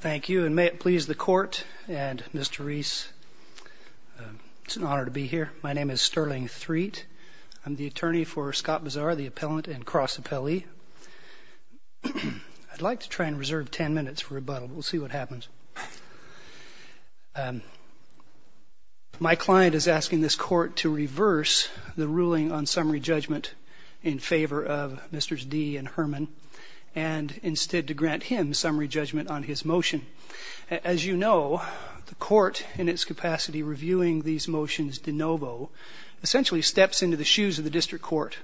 Thank you, and may it please the court and Mr. Reese, it's an honor to be here. My name is Sterling Threatt. I'm the attorney for Scott Bizar, the appellant and cross appellee. I'd like to try and reserve ten minutes for rebuttal. We'll see what happens. My client is asking this court to reverse the ruling on summary judgment in favor of Mr. Dee and Herman and instead to grant him summary judgment on his motion. As you know, the court in its capacity reviewing these motions de novo essentially steps into the shoes of the district court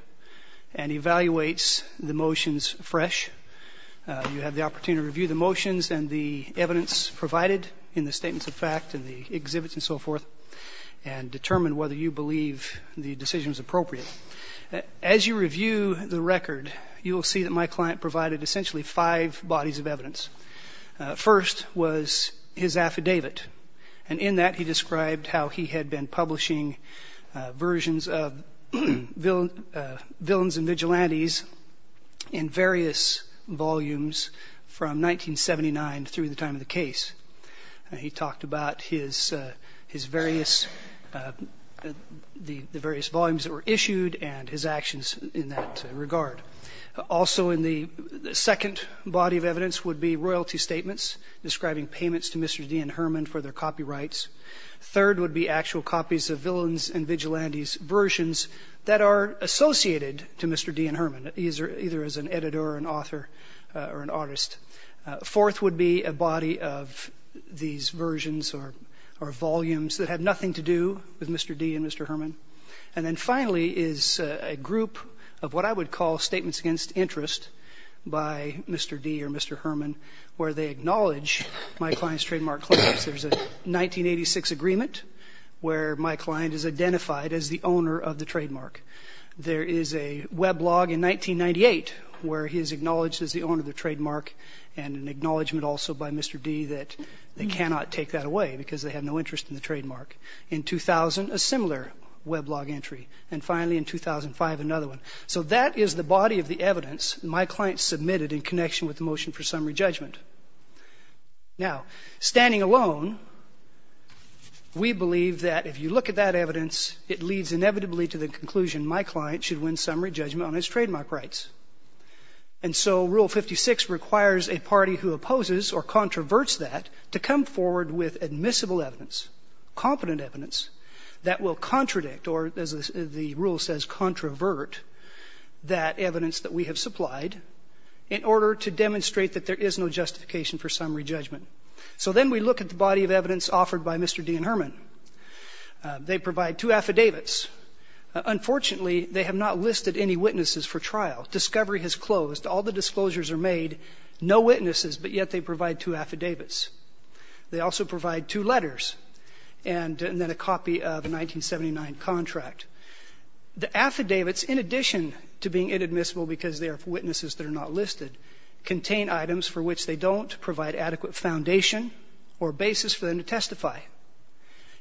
and evaluates the motions fresh. You have the opportunity to review the motions and the evidence provided in the statements of fact and the exhibits and so forth and determine whether you believe the decision is appropriate. As you review the record, you will see that my client provided essentially five bodies of evidence. First was his affidavit, and in that he described how he had been publishing versions of Villains and Vigilantes in various volumes from 1979 through the time of the case. He talked about his various volumes that were issued and his actions in that regard. Also in the second body of evidence would be royalty statements describing payments to Mr. Dee and Herman for their copyrights. Third would be actual copies of Villains and Vigilantes versions that are associated to Mr. Dee and Herman, either as an editor or an author or an artist. Fourth would be a body of these versions or volumes that had nothing to do with Mr. Dee and Mr. Herman. And then finally is a group of what I would call statements against interest by Mr. Dee or Mr. Herman where they acknowledge my client's trademark claims. There's a 1986 agreement where my client is identified as the owner of the trademark. There is a weblog in 1998 where he is acknowledged as the owner of the trademark and an acknowledgment also by Mr. Dee that they cannot take that away because they have no interest in the trademark. In 2000, a similar weblog entry. And finally in 2005, another one. So that is the body of the evidence my client submitted in connection with the motion for summary judgment. Now, standing alone, we believe that if you look at that evidence, it leads inevitably to the conclusion my client should win summary judgment on his trademark rights. And so Rule 56 requires a party who opposes or controverts that to come forward with admissible evidence, competent evidence that will contradict or, as the rule says, controvert that evidence that we have supplied in order to demonstrate that there is no justification for summary judgment. So then we look at the body of evidence offered by Mr. Dee and Herman. They provide two affidavits. Unfortunately, they have not listed any witnesses for trial. Discovery has closed. All the disclosures are made. No witnesses, but yet they provide two affidavits. They also provide two letters and then a copy of a 1979 contract. The affidavits, in addition to being inadmissible because they are for witnesses that are not listed, contain items for which they don't provide adequate foundation or basis for them to testify.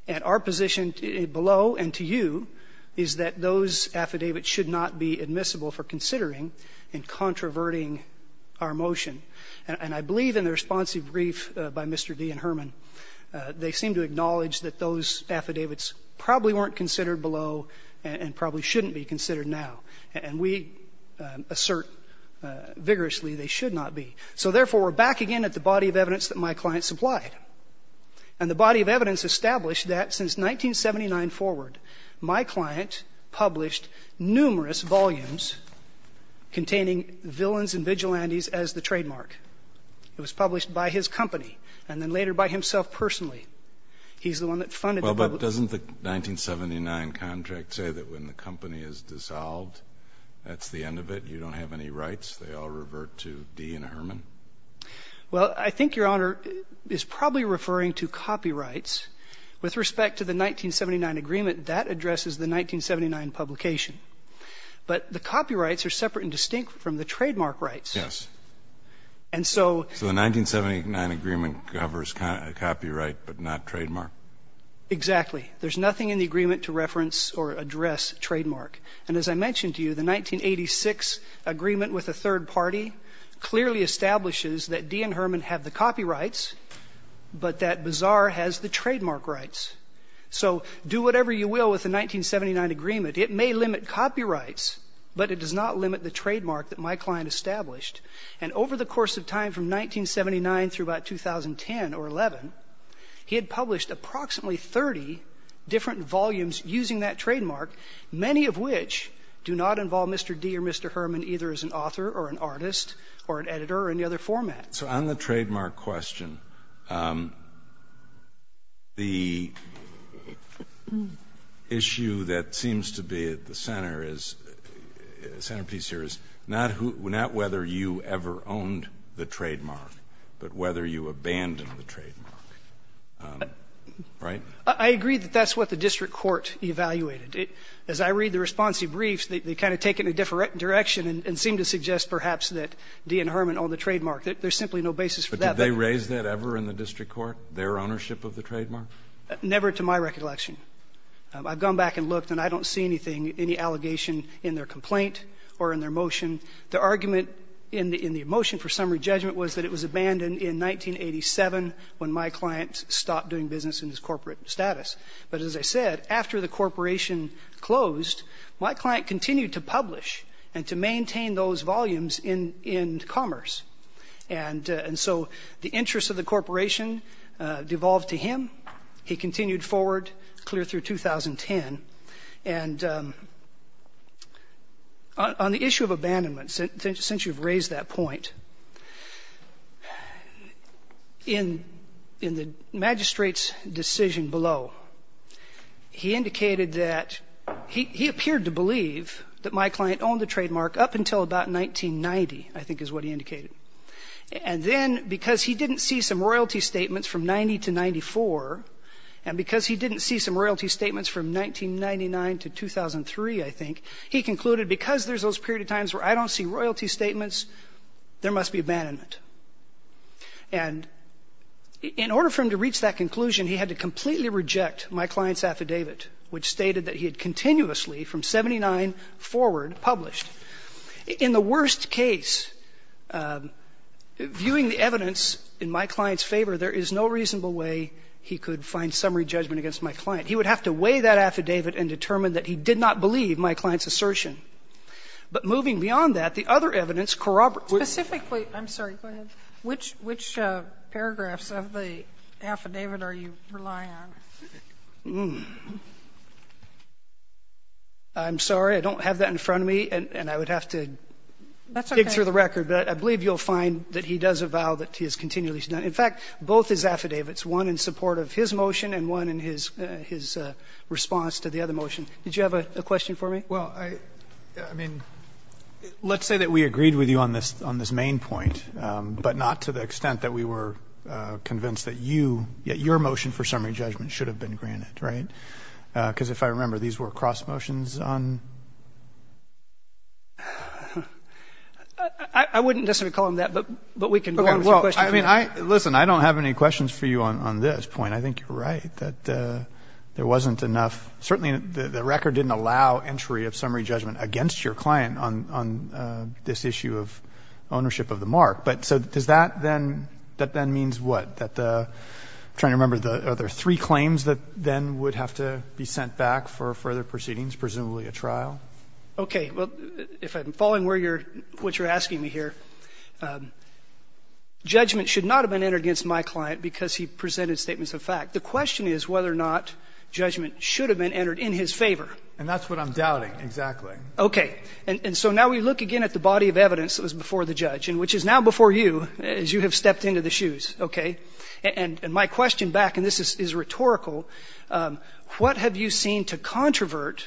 And our position below and to you is that those affidavits should not be admissible for considering and controverting our motion. And I believe in the responsive brief by Mr. Dee and Herman, they seem to acknowledge that those affidavits probably weren't considered below and probably shouldn't be considered now. And we assert vigorously they should not be. So, therefore, we're back again at the body of evidence that my client supplied. And the body of evidence established that since 1979 forward, my client published numerous volumes containing villains and vigilantes as the trademark. It was published by his company and then later by himself personally. He's the one that funded the public. Kennedy. Well, but doesn't the 1979 contract say that when the company is dissolved, that's the end of it? You don't have any rights? They all revert to Dee and Herman? Well, I think Your Honor is probably referring to copyrights. With respect to the 1979 agreement, that addresses the 1979 publication. But the copyrights are separate and distinct from the trademark rights. Yes. And so the 1979 agreement covers copyright. But not trademark. Exactly. There's nothing in the agreement to reference or address trademark. And as I mentioned to you, the 1986 agreement with a third party clearly establishes that Dee and Herman have the copyrights, but that Bazaar has the trademark rights. So do whatever you will with the 1979 agreement. It may limit copyrights, but it does not limit the trademark that my client established. And over the course of time from 1979 through about 2010 or 11, he had published approximately 30 different volumes using that trademark, many of which do not involve Mr. Dee or Mr. Herman either as an author or an artist or an editor or any other format. So on the trademark question, the issue that seems to be at the center is the center is not whether you ever owned the trademark, but whether you abandoned the trademark. Right? I agree that that's what the district court evaluated. As I read the response to your briefs, they kind of take it in a different direction and seem to suggest perhaps that Dee and Herman own the trademark. There's simply no basis for that. But did they raise that ever in the district court, their ownership of the trademark? Never to my recollection. I've gone back and looked, and I don't see anything, any allegation in their complaint or in their motion. The argument in the motion for summary judgment was that it was abandoned in 1987 when my client stopped doing business in his corporate status. But as I said, after the corporation closed, my client continued to publish and to maintain those volumes in Commerce. And so the interests of the corporation devolved to him. He continued forward clear through 2010. And on the issue of abandonment, since you've raised that point, in the magistrate's decision below, he indicated that he appeared to believe that my client owned the trademark up until about 1990, I think is what he indicated. And then because he didn't see some royalty statements from 90 to 94, and because he didn't see some royalty statements from 1999 to 2003, I think, he concluded because there's those period of times where I don't see royalty statements, there must be abandonment. And in order for him to reach that conclusion, he had to completely reject my client's affidavit, which stated that he had continuously from 79 forward published. In the worst case, viewing the evidence in my client's favor, there is no reasonable way he could find summary judgment against my client. He would have to weigh that affidavit and determine that he did not believe my client's assertion. But moving beyond that, the other evidence corroborates. Sotomayor, I'm sorry. Go ahead. Which paragraphs of the affidavit are you relying on? I'm sorry. I don't have that in front of me, and I would have to dig through the record. But I believe you'll find that he does avow that he has continually done. In fact, both his affidavits, one in support of his motion and one in his response to the other motion. Did you have a question for me? Well, I mean, let's say that we agreed with you on this main point, but not to the extent that we were convinced that you, that your motion for summary judgment should have been granted, right? Because if I remember, these were cross motions on? I wouldn't necessarily call them that, but we can go on with your question. I mean, listen, I don't have any questions for you on this point. I think you're right, that there wasn't enough. Certainly, the record didn't allow entry of summary judgment against your client on this issue of ownership of the mark. But so does that then, that then means what? I'm trying to remember. Are there three claims that then would have to be sent back for further proceedings, presumably a trial? Okay. Well, if I'm following what you're asking me here, judgment should not have been entered against my client because he presented statements of fact. The question is whether or not judgment should have been entered in his favor. And that's what I'm doubting, exactly. Okay. And so now we look again at the body of evidence that was before the judge, and which is now before you, as you have stepped into the shoes, okay? And my question back, and this is rhetorical, what have you seen to controvert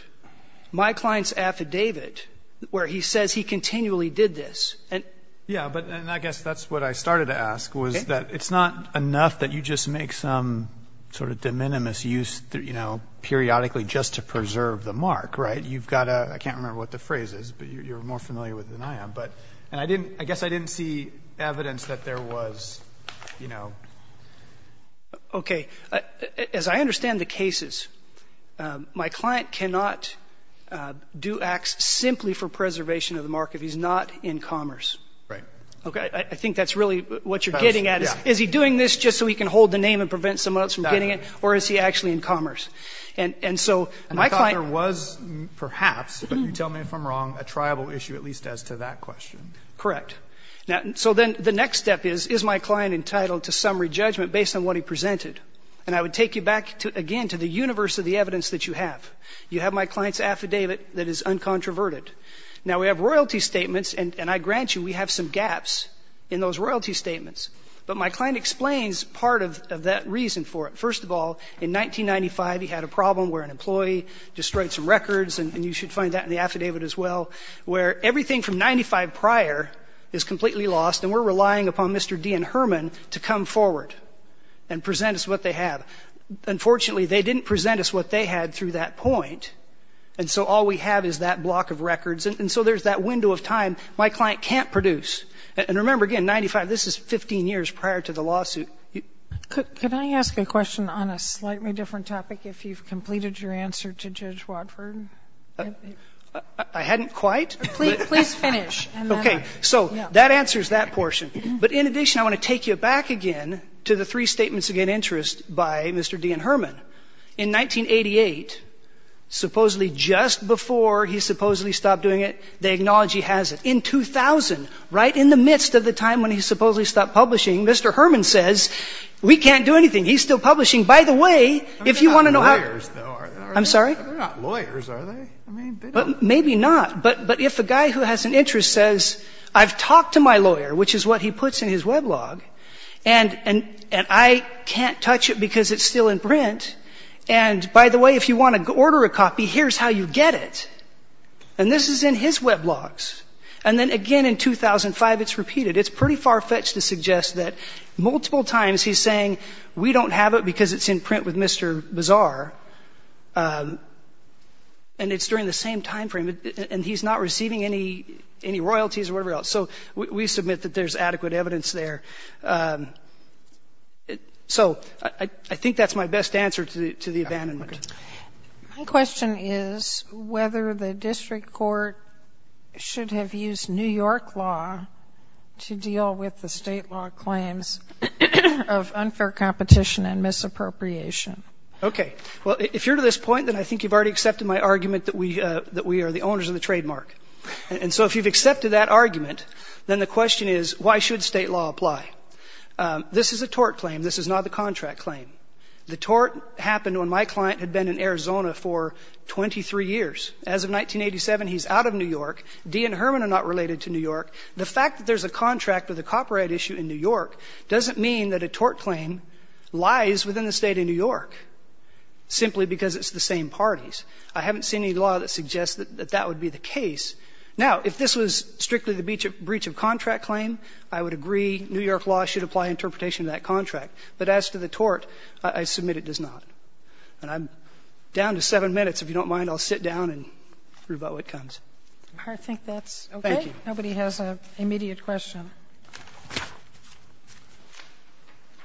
my client's affidavit where he says he continually did this? Yeah, and I guess that's what I started to ask, was that it's not enough that you just make some sort of de minimis use, you know, periodically just to preserve the mark, right? You've got to – I can't remember what the phrase is, but you're more familiar with it than I am. And I guess I didn't see evidence that there was, you know. Okay. As I understand the cases, my client cannot do acts simply for preservation of the mark if he's not in commerce. Right. Okay. I think that's really what you're getting at. Is he doing this just so he can hold the name and prevent someone else from getting it, or is he actually in commerce? And so my client – And I thought there was, perhaps, but you tell me if I'm wrong, a tribal issue at least as to that question. Correct. So then the next step is, is my client entitled to summary judgment based on what he presented? And I would take you back, again, to the universe of the evidence that you have. You have my client's affidavit that is uncontroverted. Now, we have royalty statements, and I grant you we have some gaps in those royalty statements, but my client explains part of that reason for it. First of all, in 1995 he had a problem where an employee destroyed some records, and you should find that in the affidavit as well, where everything from 1995 prior is completely lost, and we're relying upon Mr. D. and Herman to come forward and present us what they have. Unfortunately, they didn't present us what they had through that point, and so all we have is that block of records. And so there's that window of time my client can't produce. And remember, again, 1995, this is 15 years prior to the lawsuit. Could I ask a question on a slightly different topic if you've completed your answer to Judge Watford? I hadn't quite. Please finish. Okay. So that answers that portion. But in addition, I want to take you back again to the three statements of interest by Mr. D. and Herman. In 1988, supposedly just before he supposedly stopped doing it, they acknowledge he has it. In 2000, right in the midst of the time when he supposedly stopped publishing, Mr. Herman says, we can't do anything. He's still publishing. By the way, if you want to know how to do it. They're not lawyers, though, are they? I'm sorry? They're not lawyers, are they? Maybe not. But if a guy who has an interest says, I've talked to my lawyer, which is what he puts in his weblog, and I can't touch it because it's still in print. And, by the way, if you want to order a copy, here's how you get it. And this is in his weblogs. And then, again, in 2005, it's repeated. It's pretty far-fetched to suggest that multiple times he's saying, we don't have it because it's in print with Mr. Bazaar, and it's during the same timeframe, and he's not receiving any royalties or whatever else. So we submit that there's adequate evidence there. So I think that's my best answer to the abandonment. My question is whether the district court should have used New York law to deal with the State law claims of unfair competition and misappropriation. Okay. Well, if you're to this point, then I think you've already accepted my argument that we are the owners of the trademark. And so if you've accepted that argument, then the question is, why should State law apply? This is a tort claim. This is not the contract claim. The tort happened when my client had been in Arizona for 23 years. As of 1987, he's out of New York. Dee and Herman are not related to New York. The fact that there's a contract with a copyright issue in New York doesn't mean that a tort claim lies within the State of New York, simply because it's the same parties. I haven't seen any law that suggests that that would be the case. Now, if this was strictly the breach of contract claim, I would agree New York law should apply interpretation to that contract. But as to the tort, I submit it does not. And I'm down to 7 minutes. If you don't mind, I'll sit down and rebut what comes. I think that's okay. Thank you. Nobody has an immediate question.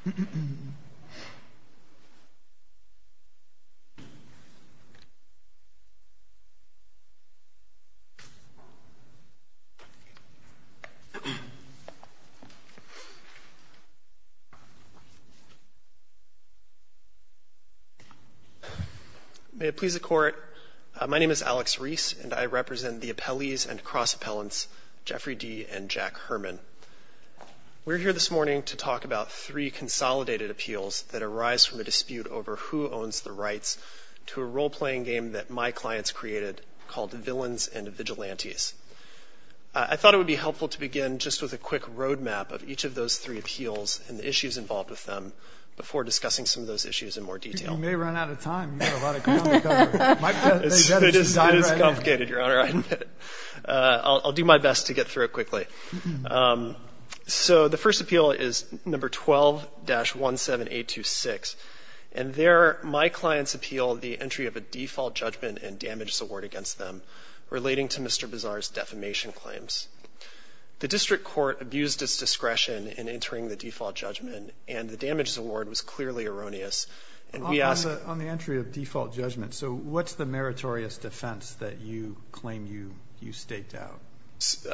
Go ahead. May it please the Court, my name is Alex Reese, and I represent the appellees and cross appellants Jeffrey Dee and Jack Herman. We're here this morning to talk about three consolidated appeals that arise from a dispute over who owns the rights to a role-playing game that my clients created called Villains and Vigilantes. I thought it would be helpful to begin just with a quick roadmap of each of those three appeals and the issues involved with them before discussing some of those issues in more detail. You may run out of time. You have a lot of ground to cover. It is complicated, Your Honor, I admit it. I'll do my best to get through it quickly. So the first appeal is number 12-17826. And there my clients appeal the entry of a default judgment and damages award against them relating to Mr. Bazar's defamation claims. The district court abused its discretion in entering the default judgment, and the damages award was clearly erroneous. And we ask... On the entry of default judgment, so what's the meritorious defense that you claim you staked out?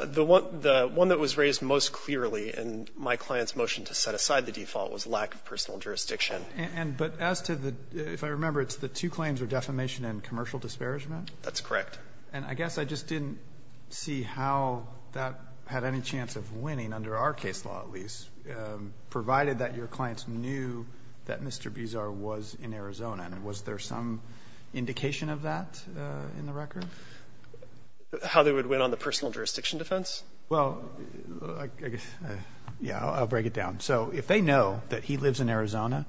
The one that was raised most clearly in my client's motion to set aside the default was lack of personal jurisdiction. But as to the, if I remember, it's the two claims of defamation and commercial disparagement? That's correct. And I guess I just didn't see how that had any chance of winning, under our case law at least, provided that your clients knew that Mr. Bazar was in Arizona. And was there some indication of that in the record? How they would win on the personal jurisdiction defense? Well, yeah, I'll break it down. So if they know that he lives in Arizona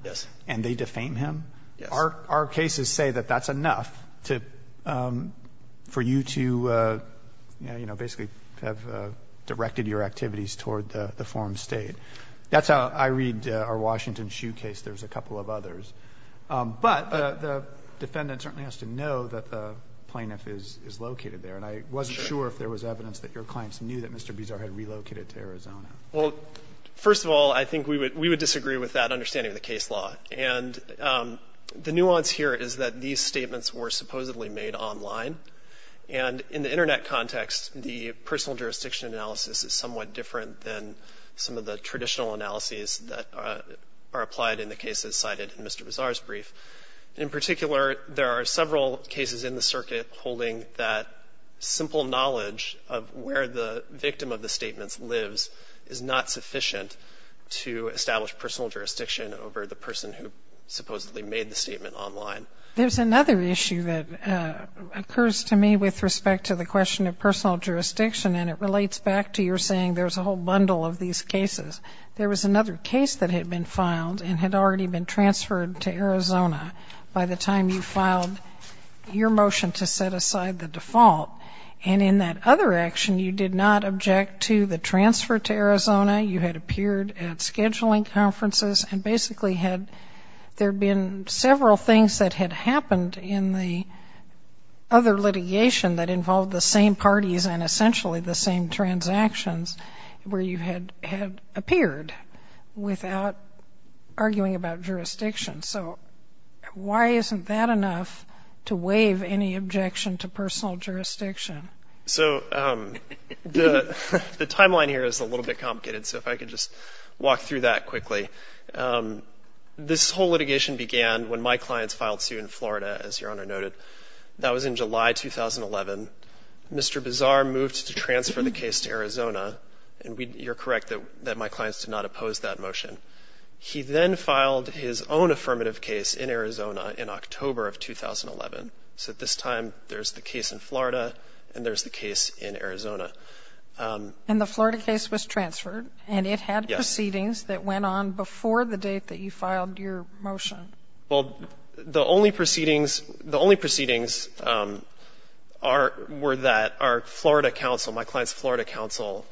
and they defame him, our cases say that that's enough for you to, you know, basically have directed your activities toward the form of state. That's how I read our Washington Shoe case. There's a couple of others. But the defendant certainly has to know that the plaintiff is located there. And I wasn't sure if there was evidence that your clients knew that Mr. Bazar had relocated to Arizona. Well, first of all, I think we would disagree with that understanding of the case law. And the nuance here is that these statements were supposedly made online. And in the Internet context, the personal jurisdiction analysis is somewhat different than some of the traditional analyses that are applied in the cases cited in Mr. Bazar's brief. In particular, there are several cases in the circuit holding that simple knowledge of where the victim of the statements lives is not sufficient to establish personal jurisdiction over the person who supposedly made the statement online. There's another issue that occurs to me with respect to the question of personal jurisdiction, and it relates back to your saying there's a whole bundle of these cases. There was another case that had been filed and had already been transferred to Arizona by the time you filed your motion to set aside the default. And in that other action, you did not object to the transfer to Arizona. You had appeared at scheduling conferences and basically had there been several things that had happened in the other litigation that involved the same parties and essentially the same transactions where you had appeared without arguing about jurisdiction. So why isn't that enough to waive any objection to personal jurisdiction? So the timeline here is a little bit complicated, so if I could just walk through that quickly. This whole litigation began when my clients filed suit in Florida, as Your Honor noted. That was in July 2011. Mr. Bazar moved to transfer the case to Arizona, and you're correct that my clients did not oppose that motion. He then filed his own affirmative case in Arizona in October of 2011. So at this time, there's the case in Florida and there's the case in Arizona. And the Florida case was transferred, and it had proceedings that went on before the date that you filed your motion. Well, the only proceedings were that our Florida counsel, my client's Florida counsel,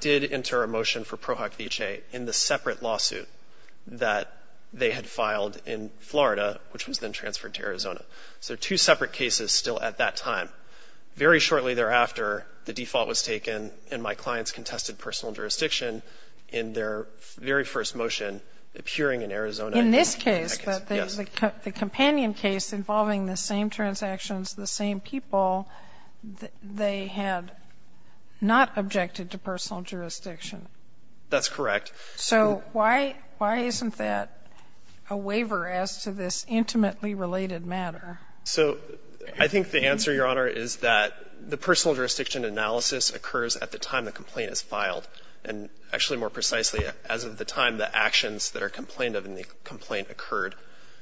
did enter a motion for pro hoc vicee in the separate lawsuit that they had filed in Florida, which was then transferred to Arizona. So two separate cases still at that time. Very shortly thereafter, the default was taken, and my clients contested personal jurisdiction in their very first motion appearing in Arizona. In this case, the companion case involving the same transactions, the same people, they had not objected to personal jurisdiction. That's correct. So why isn't that a waiver as to this intimately related matter? So I think the answer, Your Honor, is that the personal jurisdiction analysis occurs at the time the complaint is filed, and actually more precisely, as of the time the actions that are complained of in the complaint occurred.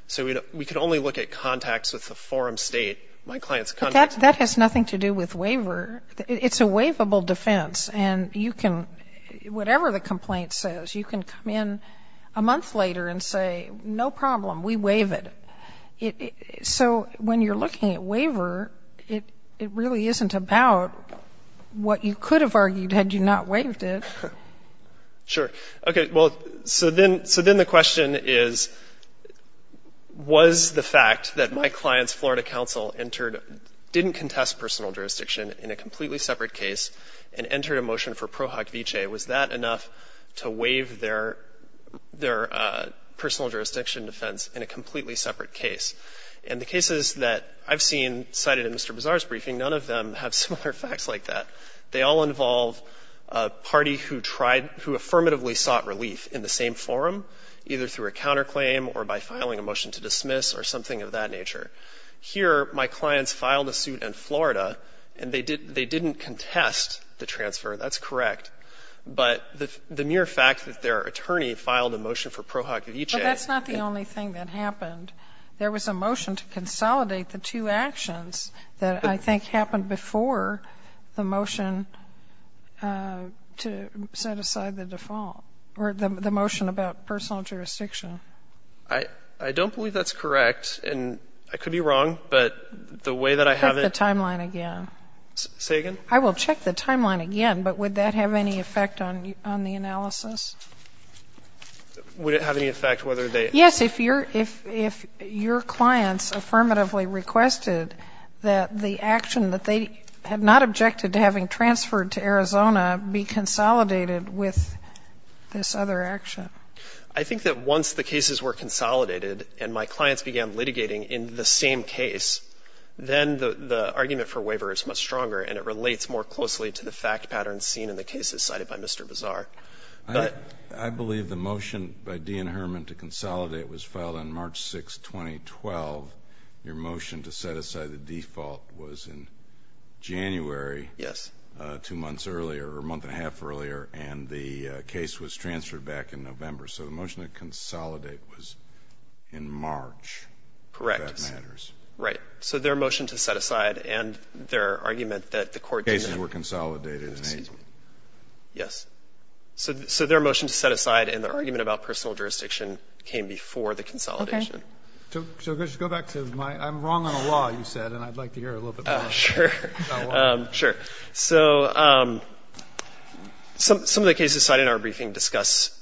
So we could only look at contacts with the forum state, my client's contacts. But that has nothing to do with waiver. It's a waivable defense. And you can, whatever the complaint says, you can come in a month later and say, no problem, we waive it. So when you're looking at waiver, it really isn't about what you could have argued had you not waived it. Sure. Okay. Well, so then the question is, was the fact that my client's Florida counsel entered, didn't contest personal jurisdiction in a completely separate case and entered a motion for pro hoc vicee, was that enough to waive their personal jurisdiction defense in a completely separate case? And the cases that I've seen cited in Mr. Bazar's briefing, none of them have similar facts like that. They all involve a party who tried, who affirmatively sought relief in the same forum, either through a counterclaim or by filing a motion to dismiss or something of that nature. Here, my clients filed a suit in Florida, and they didn't contest the transfer. That's correct. But the mere fact that their attorney filed a motion for pro hoc vicee. But that's not the only thing that happened. There was a motion to consolidate the two actions that I think happened before the motion to set aside the default, or the motion about personal jurisdiction. I don't believe that's correct. And I could be wrong, but the way that I have it. Check the timeline again. Say again? I will check the timeline again, but would that have any effect on the analysis? Would it have any effect whether they. Yes, if your clients affirmatively requested that the action that they had not objected to having transferred to Arizona be consolidated with this other action. I think that once the cases were consolidated and my clients began litigating in the same case, then the argument for waiver is much stronger and it relates more closely to the fact pattern seen in the cases cited by Mr. Bazar. I believe the motion by Dean Herman to consolidate was filed on March 6, 2012. Your motion to set aside the default was in January. Yes. Two months earlier, or a month and a half earlier, and the case was transferred back in November. So the motion to consolidate was in March. Correct. If that matters. Right. So their motion to set aside and their argument that the court. Cases were consolidated in April. Yes. So their motion to set aside and their argument about personal jurisdiction came before the consolidation. Okay. So just go back to my, I'm wrong on a law, you said, and I'd like to hear a little bit more. Sure. Sure. So some of the cases cited in our briefing discuss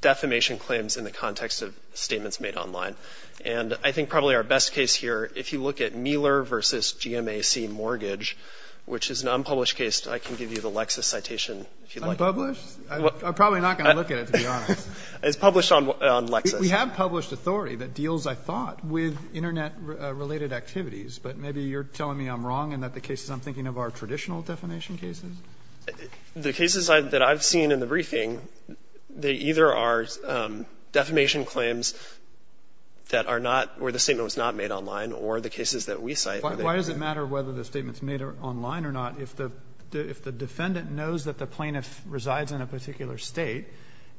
defamation claims in the context of statements made online. And I think probably our best case here, if you look at Mueller versus GMAC mortgage, which is an unpublished case, I can give you the Lexis citation if you'd like. Unpublished? I'm probably not going to look at it, to be honest. It's published on Lexis. We have published authority that deals, I thought, with Internet-related activities, but maybe you're telling me I'm wrong and that the cases I'm thinking of are traditional defamation cases? The cases that I've seen in the briefing, they either are defamation claims that are not, where the statement was not made online, or the cases that we cite. Why does it matter whether the statement's made online or not if the defendant knows that the plaintiff resides in a particular State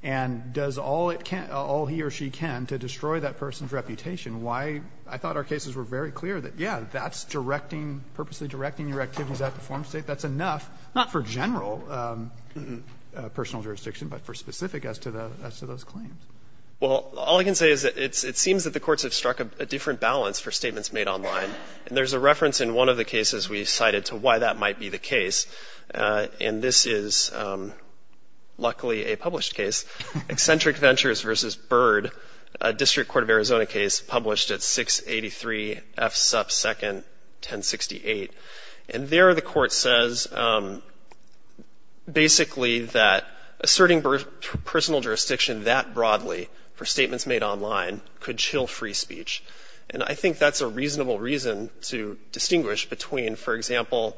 and does all it can, all he or she can to destroy that person's reputation? Why? I thought our cases were very clear that, yeah, that's directing, purposely directing your activities at the form State. That's enough, not for general personal jurisdiction, but for specific as to those claims. Well, all I can say is it seems that the courts have struck a different balance for statements made online. And there's a reference in one of the cases we cited to why that might be the case. And this is, luckily, a published case. Eccentric Ventures v. Bird, a District Court of Arizona case published at 683 F. Supp. 2nd, 1068. And there the court says basically that asserting personal jurisdiction that broadly for statements made online could chill free speech. And I think that's a reasonable reason to distinguish between, for example,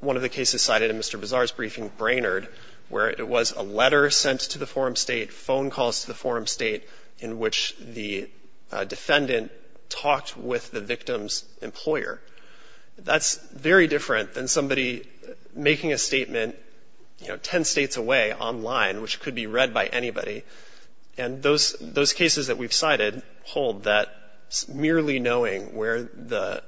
one of the cases cited in Mr. Bazar's briefing, Brainerd, where it was a letter sent to the forum State, phone calls to the forum State, in which the defendant talked with the victim's employer. That's very different than somebody making a statement, you know, 10 States away online, which could be read by anybody. And those cases that we've cited hold that merely knowing where the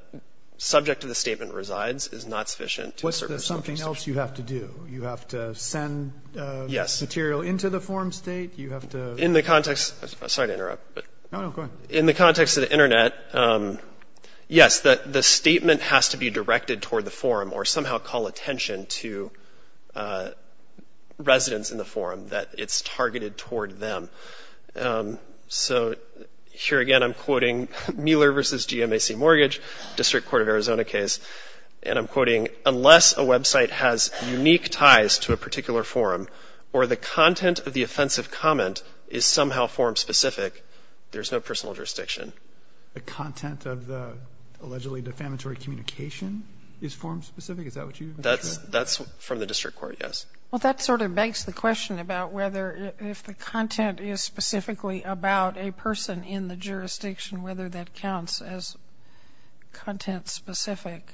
subject of the statement resides is not sufficient. What's the something else you have to do? You have to send material into the forum State? You have to... In the context... Sorry to interrupt. No, no, go ahead. In the context of the Internet, yes, the statement has to be directed toward the forum or somehow call attention to residents in the forum that it's targeted toward them. So here again, I'm quoting Mueller v. GMAC Mortgage, District Court of Arizona case, and I'm quoting, unless a website has unique ties to a particular forum or the content of the offensive comment is somehow forum-specific, there's no personal jurisdiction. The content of the allegedly defamatory communication is forum-specific? Is that what you... That's from the District Court, yes. Well, that sort of begs the question about whether if the content is specifically about a person in the jurisdiction, whether that counts as content-specific.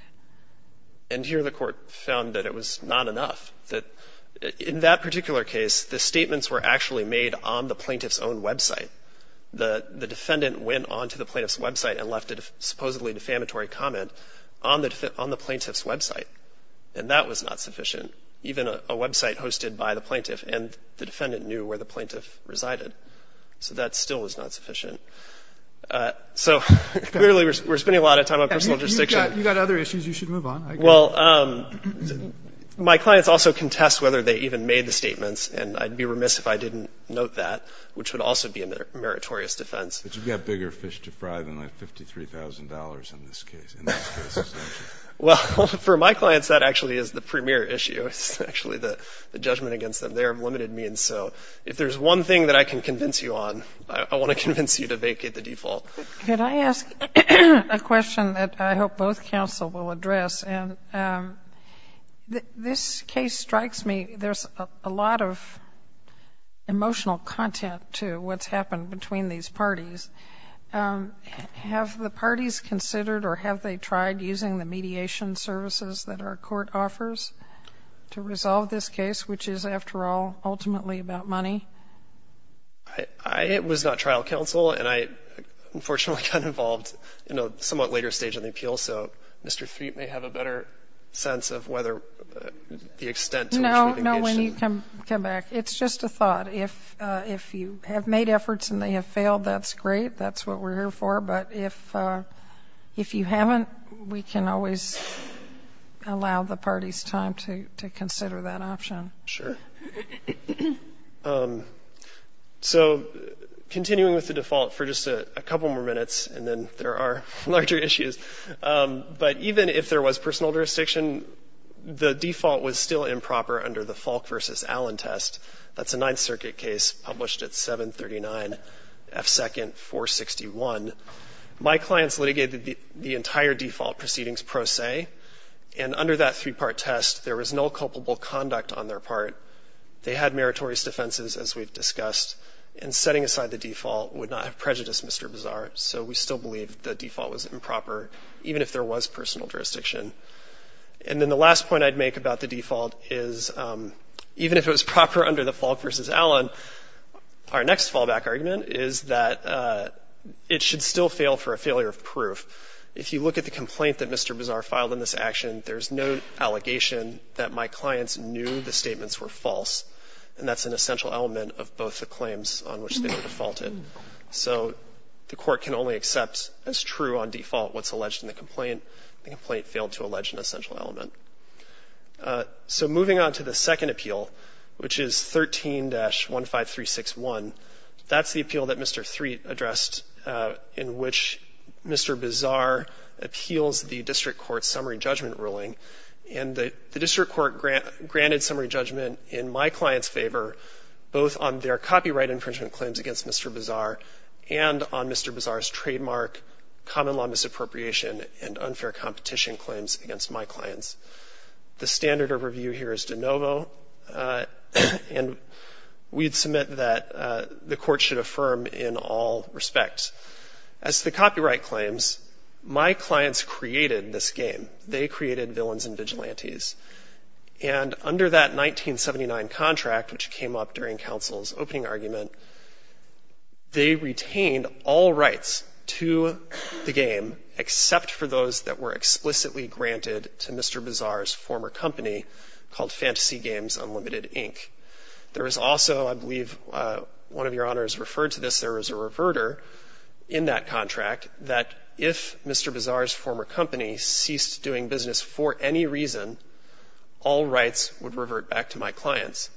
And here the court found that it was not enough, that in that particular case, the statements were actually made on the plaintiff's own website. The defendant went onto the plaintiff's website and left a supposedly defamatory comment on the plaintiff's website, and that was not sufficient. Even a website hosted by the plaintiff, and the defendant knew where the plaintiff resided. So that still was not sufficient. So clearly we're spending a lot of time on personal jurisdiction. You've got other issues. You should move on. Well, my clients also contest whether they even made the statements, and I'd be remiss if I didn't note that, which would also be a meritorious defense. But you've got bigger fish to fry than, like, $53,000 in this case. Well, for my clients, that actually is the premier issue. It's actually the judgment against them. They are limited means. So if there's one thing that I can convince you on, I want to convince you to vacate the default. Could I ask a question that I hope both counsel will address? And this case strikes me, there's a lot of emotional content to what's happened between these parties. Have the parties considered or have they tried using the mediation services that our court offers to resolve this case, which is, after all, ultimately about money? It was not trial counsel, and I unfortunately got involved in a somewhat later stage in the appeal. So Mr. Threep may have a better sense of whether the extent to which we've engaged in. No, no, when you come back. It's just a thought. If you have made efforts and they have failed, that's great. That's what we're here for. But if you haven't, we can always allow the parties time to consider that option. Sure. So continuing with the default for just a couple more minutes, and then there are larger issues. But even if there was personal jurisdiction, the default was still improper under the Falk v. Allen test. That's a Ninth Circuit case published at 739 F. 2nd 461. My clients litigated the entire default proceedings pro se. And under that three-part test, there was no culpable conduct on their part. They had meritorious defenses, as we've discussed. And setting aside the default would not have prejudiced Mr. Bazar. So we still believe the default was improper, even if there was personal jurisdiction. And then the last point I'd make about the default is, even if it was proper under the Falk v. Allen, our next fallback argument is that it should still fail for a failure of proof. If you look at the complaint that Mr. Bazar filed in this action, there's no allegation that my clients knew the statements were false. And that's an essential element of both the claims on which they were defaulted. So the court can only accept as true on default what's alleged in the complaint. The complaint failed to allege an essential element. So moving on to the second appeal, which is 13-15361, that's the appeal that Mr. Threatt addressed in which Mr. Bazar appeals the district court's summary judgment ruling. And the district court granted summary judgment in my client's favor, both on their copyright infringement claims against Mr. Bazar and on Mr. Bazar's unfair competition claims against my clients. The standard of review here is de novo. And we'd submit that the court should affirm in all respects. As to the copyright claims, my clients created this game. They created villains and vigilantes. And under that 1979 contract, which came up during counsel's opening argument, they retained all rights to the game except for those that were explicitly granted to Mr. Bazar's former company called Fantasy Games Unlimited, Inc. There was also, I believe one of your honors referred to this, there was a reverter in that contract that if Mr. Bazar's former company ceased doing business for any reason, all rights would revert back to my clients.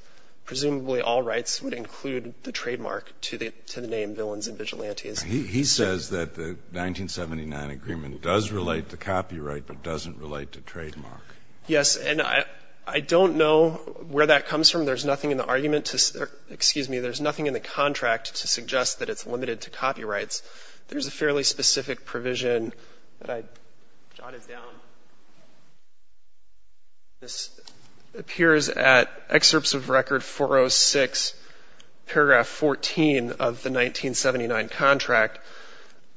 Presumably all rights would include the trademark to the name Villains and Vigilantes. He says that the 1979 agreement does relate to copyright but doesn't relate to trademark. Yes. And I don't know where that comes from. There's nothing in the argument to – excuse me, there's nothing in the contract to suggest that it's limited to copyrights. There's a fairly specific provision that I jotted down. This appears at excerpts of record 406, paragraph 14 of the 1979 contract.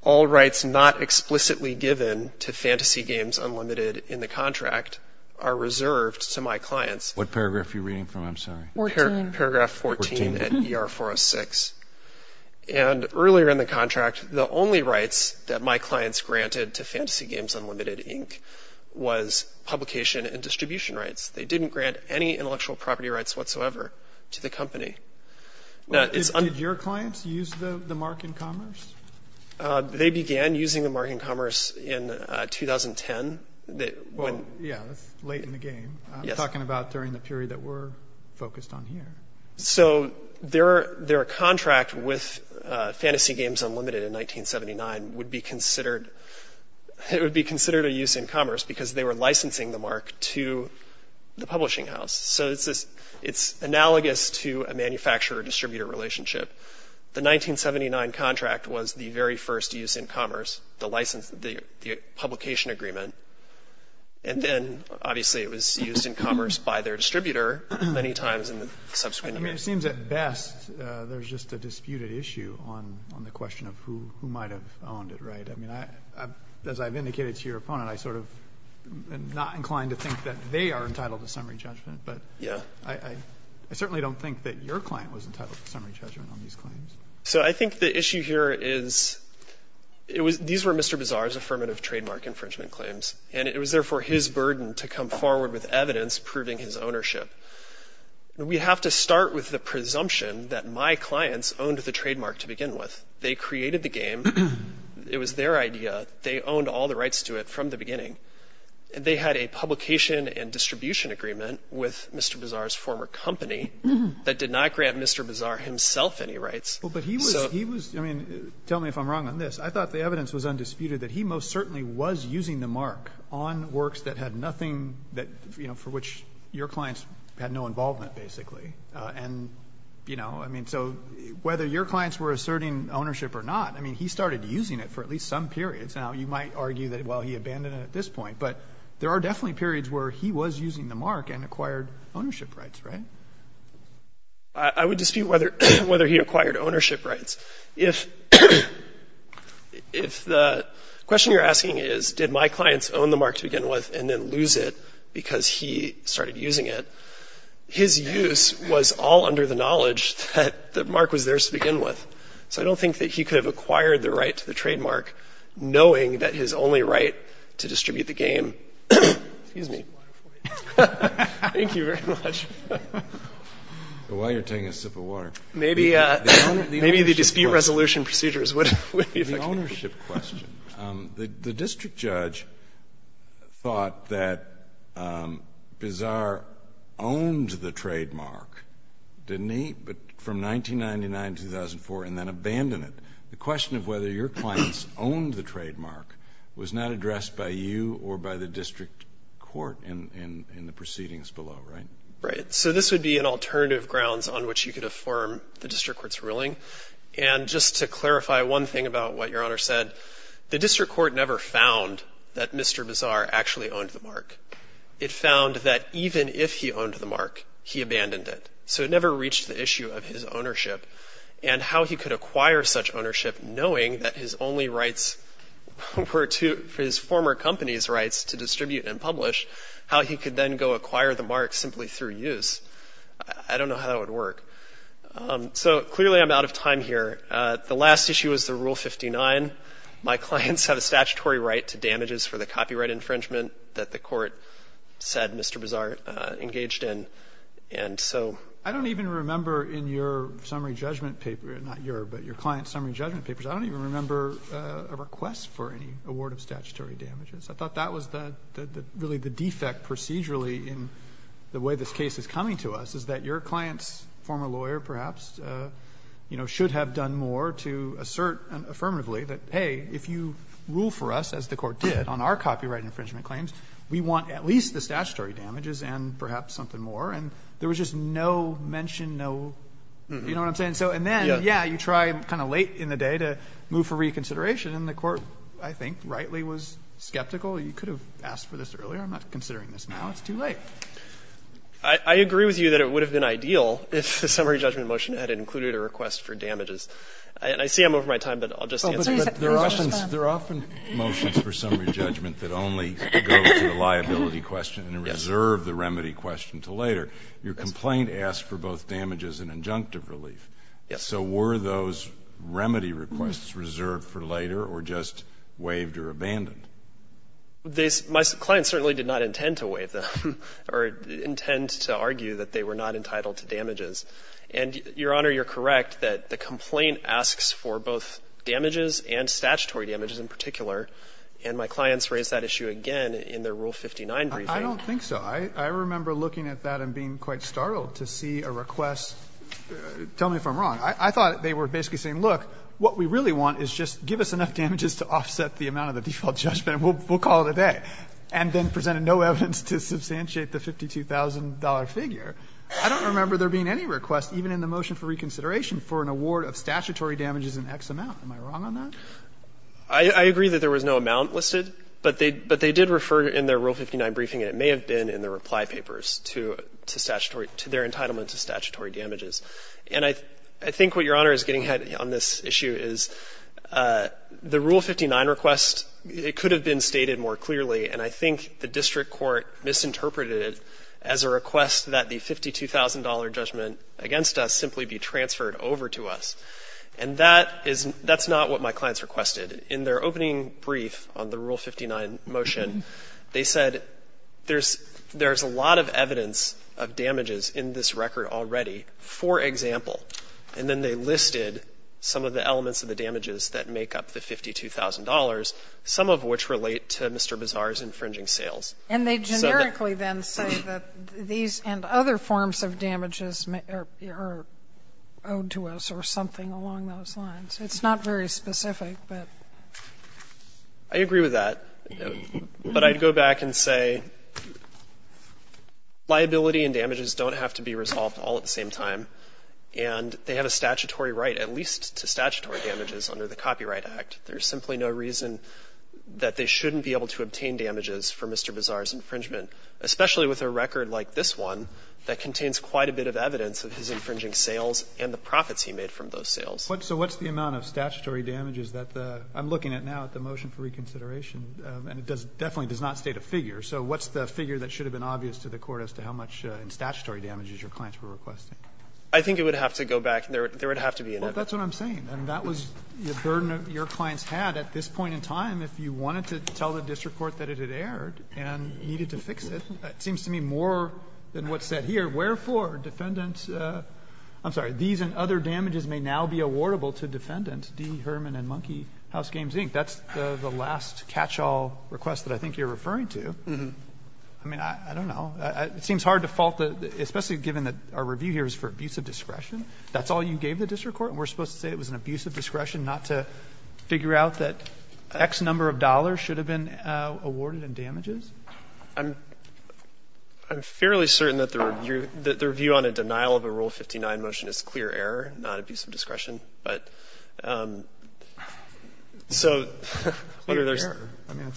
All rights not explicitly given to Fantasy Games Unlimited in the contract are reserved to my clients. What paragraph are you reading from? I'm sorry. Paragraph 14 at ER 406. And earlier in the contract, the only rights that my clients granted to Fantasy Games Unlimited, Inc., was publication and distribution rights. They didn't grant any intellectual property rights whatsoever to the company. Did your clients use the mark in commerce? They began using the mark in commerce in 2010. Yeah, that's late in the game. I'm talking about during the period that we're focused on here. So their contract with Fantasy Games Unlimited in 1979 would be considered a use in commerce because they were licensing the mark to the publishing house. So it's analogous to a manufacturer-distributor relationship. The 1979 contract was the very first use in commerce, the publication agreement. And then, obviously, it was used in commerce by their distributor many times in the subsequent years. I mean, it seems at best there's just a disputed issue on the question of who might have owned it, right? I mean, as I've indicated to your opponent, I sort of am not inclined to think that they are entitled to summary judgment, but I certainly don't think that your client was entitled to summary judgment on these claims. So I think the issue here is these were Mr. Bizarre's affirmative trademark infringement claims, and it was therefore his burden to come forward with evidence proving his ownership. We have to start with the presumption that my clients owned the trademark to begin with. They created the game. It was their idea. They owned all the rights to it from the beginning. They had a publication and distribution agreement with Mr. Bizarre's former company that did not grant Mr. Bizarre himself any rights. But he was, I mean, tell me if I'm wrong on this. I thought the evidence was undisputed that he most certainly was using the mark on works that had nothing that, you know, for which your clients had no involvement, basically. And, you know, I mean, so whether your clients were asserting ownership or not, I mean, he started using it for at least some periods. Now, you might argue that, well, he abandoned it at this point. But there are definitely periods where he was using the mark and acquired ownership rights, right? I would dispute whether he acquired ownership rights. If the question you're asking is did my clients own the mark to begin with and then lose it because he started using it, his use was all under the knowledge that the mark was theirs to begin with. So I don't think that he could have acquired the right to the trademark knowing that his only right to distribute the game. Excuse me. Thank you very much. While you're taking a sip of water. Maybe the dispute resolution procedures would be effective. The ownership question. The district judge thought that Bizarre owned the trademark, didn't he? But from 1999 to 2004 and then abandoned it. The question of whether your clients owned the trademark was not addressed by you or by the district court in the proceedings below, right? Right. So this would be an alternative grounds on which you could affirm the district court's ruling. And just to clarify one thing about what your Honor said, the district court never found that Mr. Bizarre actually owned the mark. It found that even if he owned the mark, he abandoned it. So it never reached the issue of his ownership and how he could acquire such to distribute and publish, how he could then go acquire the mark simply through use. I don't know how it would work. So clearly I'm out of time here. The last issue was the Rule 59. My clients have a statutory right to damages for the copyright infringement that the court said Mr. Bizarre engaged in. And so I don't even remember in your summary judgment paper, not your, but your client's summary judgment papers. I don't even remember a request for any award of statutory damages. I thought that was really the defect procedurally in the way this case is coming to us is that your client's former lawyer perhaps, you know, should have done more to assert affirmatively that, hey, if you rule for us as the court did on our copyright infringement claims, we want at least the statutory damages and perhaps something more. And there was just no mention, no, you know what I'm saying? And so, and then, yeah, you try kind of late in the day to move for reconsideration and the court, I think, rightly was skeptical. You could have asked for this earlier. I'm not considering this now. It's too late. I agree with you that it would have been ideal if the summary judgment motion had included a request for damages. And I see I'm over my time, but I'll just answer your question. There are often motions for summary judgment that only go to the liability question and reserve the remedy question to later. Your complaint asked for both damages and injunctive relief. Yes. So were those remedy requests reserved for later or just waived or abandoned? My client certainly did not intend to waive them or intend to argue that they were not entitled to damages. And, Your Honor, you're correct that the complaint asks for both damages and statutory damages in particular, and my clients raised that issue again in their Rule 59 briefing. I don't think so. I remember looking at that and being quite startled to see a request. Tell me if I'm wrong. I thought they were basically saying, look, what we really want is just give us enough damages to offset the amount of the default judgment and we'll call it a day, and then presented no evidence to substantiate the $52,000 figure. I don't remember there being any request, even in the motion for reconsideration, for an award of statutory damages in X amount. Am I wrong on that? I agree that there was no amount listed, but they did refer in their Rule 59 briefing and it may have been in the reply papers to statutory — to their entitlement to statutory damages. And I think what Your Honor is getting at on this issue is the Rule 59 request, it could have been stated more clearly, and I think the district court misinterpreted it as a request that the $52,000 judgment against us simply be transferred over to us. And that is — that's not what my clients requested. In their opening brief on the Rule 59 motion, they said there's a lot of evidence of damages in this record already, for example. And then they listed some of the elements of the damages that make up the $52,000, some of which relate to Mr. Bazar's infringing sales. And they generically then say that these and other forms of damages are owed to us or something along those lines. It's not very specific, but. I agree with that. But I'd go back and say liability and damages don't have to be resolved all at the same time. And they have a statutory right, at least to statutory damages under the Copyright Act. There's simply no reason that they shouldn't be able to obtain damages for Mr. Bazar's infringement, especially with a record like this one that contains quite a bit of evidence of his infringing sales and the profits he made from those sales. So what's the amount of statutory damages that the — I'm looking at now at the motion for reconsideration, and it does — definitely does not state a figure. So what's the figure that should have been obvious to the Court as to how much in statutory damages your clients were requesting? I think it would have to go back. There would have to be an evidence. Well, that's what I'm saying. And that was the burden your clients had at this point in time if you wanted to tell the district court that it had erred and needed to fix it. It seems to me more than what's said here. Wherefore, defendants — I'm sorry. These and other damages may now be awardable to defendants. D. Herman and Monkey, House Games, Inc. That's the last catch-all request that I think you're referring to. I mean, I don't know. It seems hard to fault the — especially given that our review here is for abuse of discretion. That's all you gave the district court, and we're supposed to say it was an abuse in damages? I'm fairly certain that the review on a denial of a Rule 59 motion is clear error, not abuse of discretion. But so, I mean,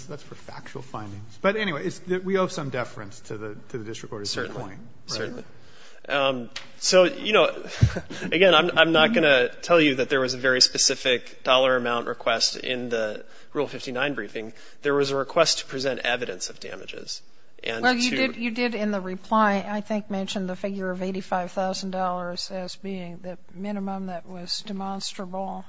that's for factual findings. But anyway, we owe some deference to the district court at this point. Certainly. Certainly. So, you know, again, I'm not going to tell you that there was a very specific dollar amount request in the Rule 59 briefing. There was a request to present evidence of damages, and to — Well, you did in the reply, I think, mention the figure of $85,000 as being the minimum that was demonstrable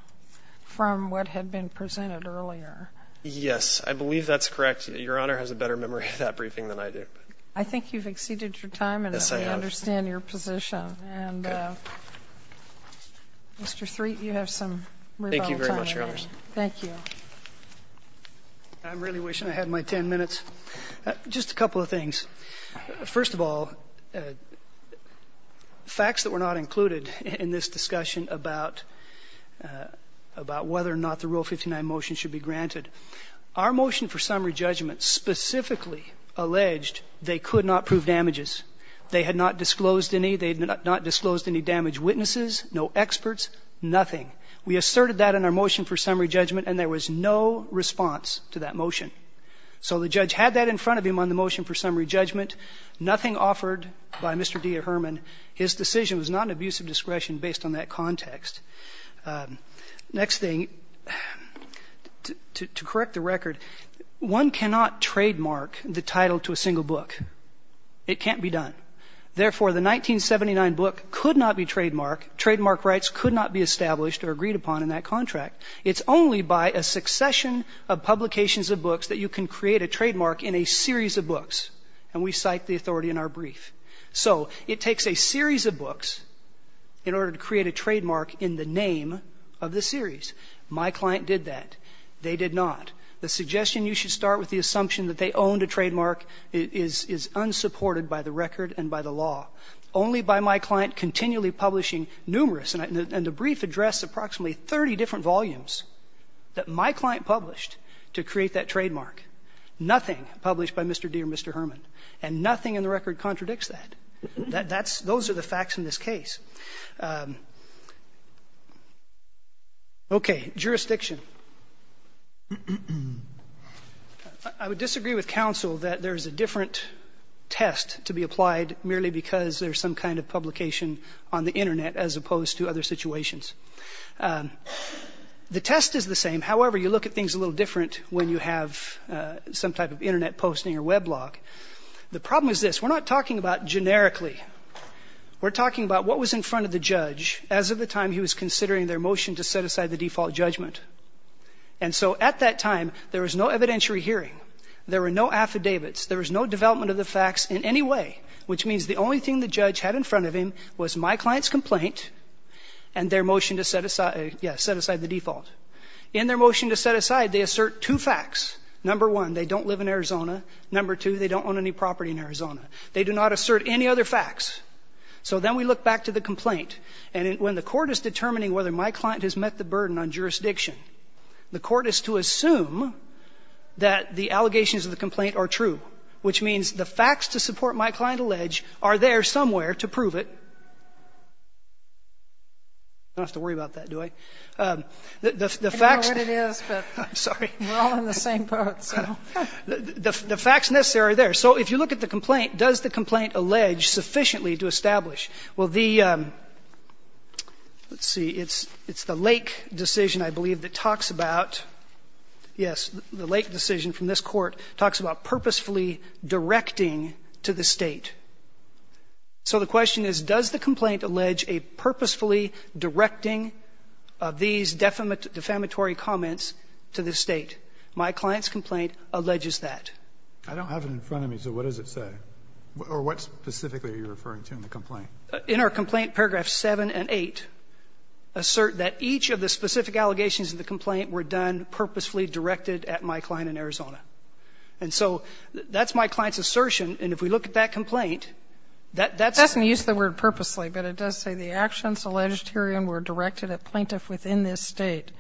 from what had been presented earlier. Yes. I believe that's correct. Your Honor has a better memory of that briefing than I do. I think you've exceeded your time, and I understand your position. Yes, I have. And, Mr. Threatt, you have some rebuttal time remaining. Thank you very much, Your Honors. Thank you. I'm really wishing I had my 10 minutes. Just a couple of things. First of all, facts that were not included in this discussion about whether or not the Rule 59 motion should be granted. Our motion for summary judgment specifically alleged they could not prove damages. They had not disclosed any. They had not disclosed any damage witnesses, no experts, nothing. We asserted that in our motion for summary judgment, and there was no response to that motion. So the judge had that in front of him on the motion for summary judgment. Nothing offered by Mr. D. Herman. His decision was not an abuse of discretion based on that context. Next thing, to correct the record, one cannot trademark the title to a single book. It can't be done. Therefore, the 1979 book could not be trademarked. Trademark rights could not be established or agreed upon in that contract. It's only by a succession of publications of books that you can create a trademark in a series of books, and we cite the authority in our brief. So it takes a series of books in order to create a trademark in the name of the series. My client did that. They did not. The suggestion you should start with the assumption that they owned a trademark is unsupported by the record and by the law. Only by my client continually publishing numerous, and the brief addressed approximately 30 different volumes that my client published to create that trademark. Nothing published by Mr. D. or Mr. Herman. And nothing in the record contradicts that. Those are the facts in this case. Okay. Jurisdiction. I would disagree with counsel that there is a different test to be applied merely because there's some kind of publication on the Internet as opposed to other situations. The test is the same. However, you look at things a little different when you have some type of Internet posting or web blog. The problem is this. We're not talking about generically. We're talking about what was in front of the judge as of the time he was considering their motion to set aside the default judgment. And so at that time, there was no evidentiary hearing. There were no affidavits. There was no development of the facts in any way, which means the only thing the judge had in front of him was my client's complaint and their motion to set aside the default. In their motion to set aside, they assert two facts. Number one, they don't live in Arizona. Number two, they don't own any property in Arizona. They do not assert any other facts. So then we look back to the complaint. And when the court is determining whether my client has met the burden on jurisdiction, the court is to assume that the allegations of the complaint are true, which means the facts to support my client allege are there somewhere to prove it. I don't have to worry about that, do I? The facts next to it are there. So if you look at the complaint, does the complaint allege sufficiently to establish? Well, the ‑‑ let's see. It's the Lake decision, I believe, that talks about ‑‑ yes, the Lake decision from this Court talks about purposefully directing to the State. So the question is, does the complaint allege a purposefully directing of these defamatory comments to the State? My client's complaint alleges that. I don't have it in front of me, so what does it say? Or what specifically are you referring to in the complaint? In our complaint, paragraphs 7 and 8 assert that each of the specific allegations of the complaint were done purposefully directed at my client in Arizona. And so that's my client's assertion. And if we look at that complaint, that's ‑‑ It doesn't use the word purposely, but it does say the actions alleged herein were directed at plaintiff within this State.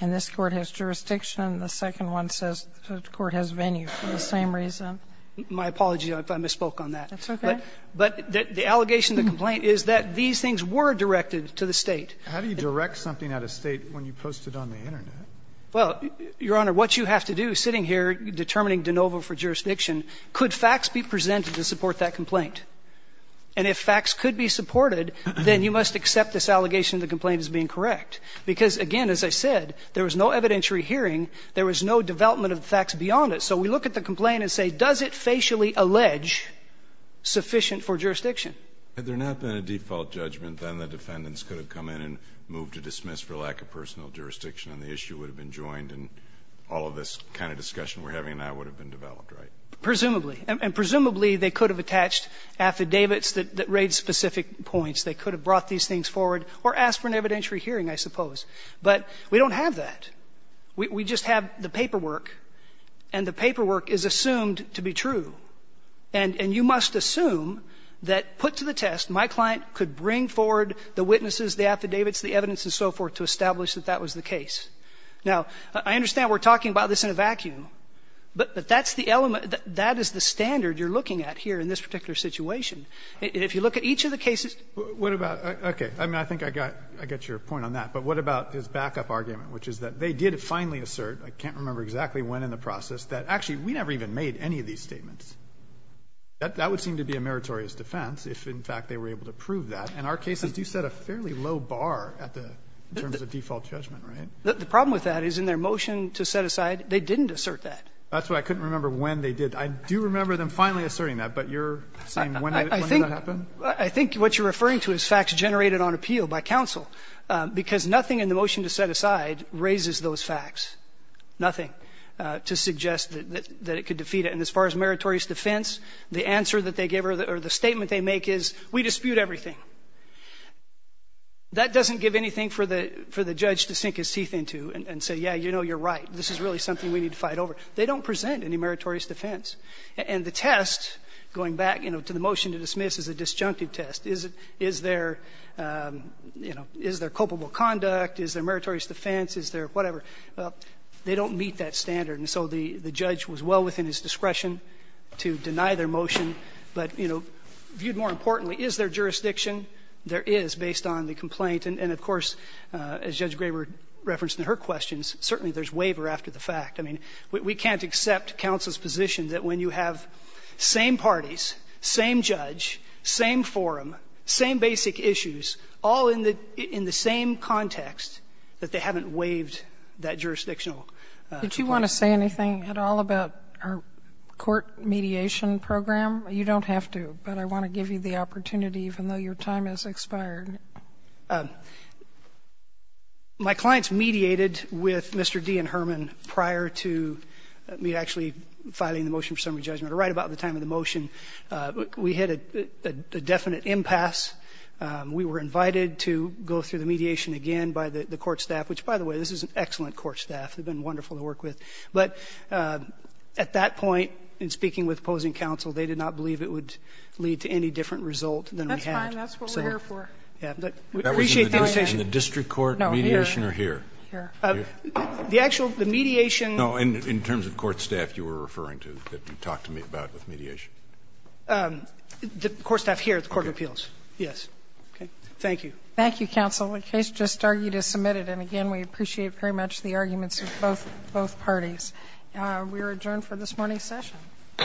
And this Court has jurisdiction. The second one says the court has venue for the same reason. My apology if I misspoke on that. That's okay. But the allegation of the complaint is that these things were directed to the State. How do you direct something out of State when you post it on the Internet? Well, Your Honor, what you have to do sitting here determining de novo for jurisdiction, could facts be presented to support that complaint? And if facts could be supported, then you must accept this allegation of the complaint as being correct. Because, again, as I said, there was no evidentiary hearing. There was no development of the facts beyond it. So we look at the complaint and say, does it facially allege sufficient for jurisdiction? Had there not been a default judgment, then the defendants could have come in and moved to dismiss for lack of personal jurisdiction, and the issue would have been joined, and all of this kind of discussion we're having now would have been developed, right? Presumably. And presumably, they could have attached affidavits that raise specific points. They could have brought these things forward or asked for an evidentiary hearing, I suppose. But we don't have that. We just have the paperwork, and the paperwork is assumed to be true. And you must assume that put to the test, my client could bring forward the witnesses, the affidavits, the evidence, and so forth, to establish that that was the case. Now, I understand we're talking about this in a vacuum, but that's the element that that is the standard you're looking at here in this particular situation. If you look at each of the cases. What about, okay, I mean, I think I got your point on that, but what about his backup argument, which is that they did finally assert, I can't remember exactly when in the That would seem to be a meritorious defense if, in fact, they were able to prove that. In our cases, you set a fairly low bar at the terms of default judgment, right? The problem with that is in their motion to set aside, they didn't assert that. That's why I couldn't remember when they did. I do remember them finally asserting that, but you're saying when did that happen? I think what you're referring to is facts generated on appeal by counsel, because nothing in the motion to set aside raises those facts, nothing, to suggest that it could defeat it. And as far as meritorious defense, the answer that they give or the statement they make is we dispute everything. That doesn't give anything for the judge to sink his teeth into and say, yeah, you know, you're right. This is really something we need to fight over. They don't present any meritorious defense. And the test, going back, you know, to the motion to dismiss is a disjunctive test. Is there, you know, is there culpable conduct? Is there meritorious defense? Is there whatever? They don't meet that standard. And so the judge was well within his discretion to deny their motion. But, you know, viewed more importantly, is there jurisdiction? There is, based on the complaint. And of course, as Judge Graber referenced in her questions, certainly there is waiver after the fact. I mean, we can't accept counsel's position that when you have same parties, same judge, same forum, same basic issues, all in the same context, that they haven't waived that jurisdictional place. Did you want to say anything at all about our court mediation program? You don't have to, but I want to give you the opportunity, even though your time has expired. My clients mediated with Mr. D. and Herman prior to me actually filing the motion for summary judgment, right about the time of the motion. We had a definite impasse. We were invited to go through the mediation again by the court staff, which, by the way, this is an excellent court staff. They've been wonderful to work with. But at that point, in speaking with opposing counsel, they did not believe it would lead to any different result than we had. That's fine. That's what we're here for. We appreciate the invitation. That was in the district court mediation or here? Here. The actual, the mediation. No, in terms of court staff you were referring to that you talked to me about with mediation. The court staff here at the court of appeals. Okay. Yes. Okay. Thank you. Thank you, counsel. The case just argued as submitted. And, again, we appreciate very much the arguments of both parties. We are adjourned for this morning's session. All rise.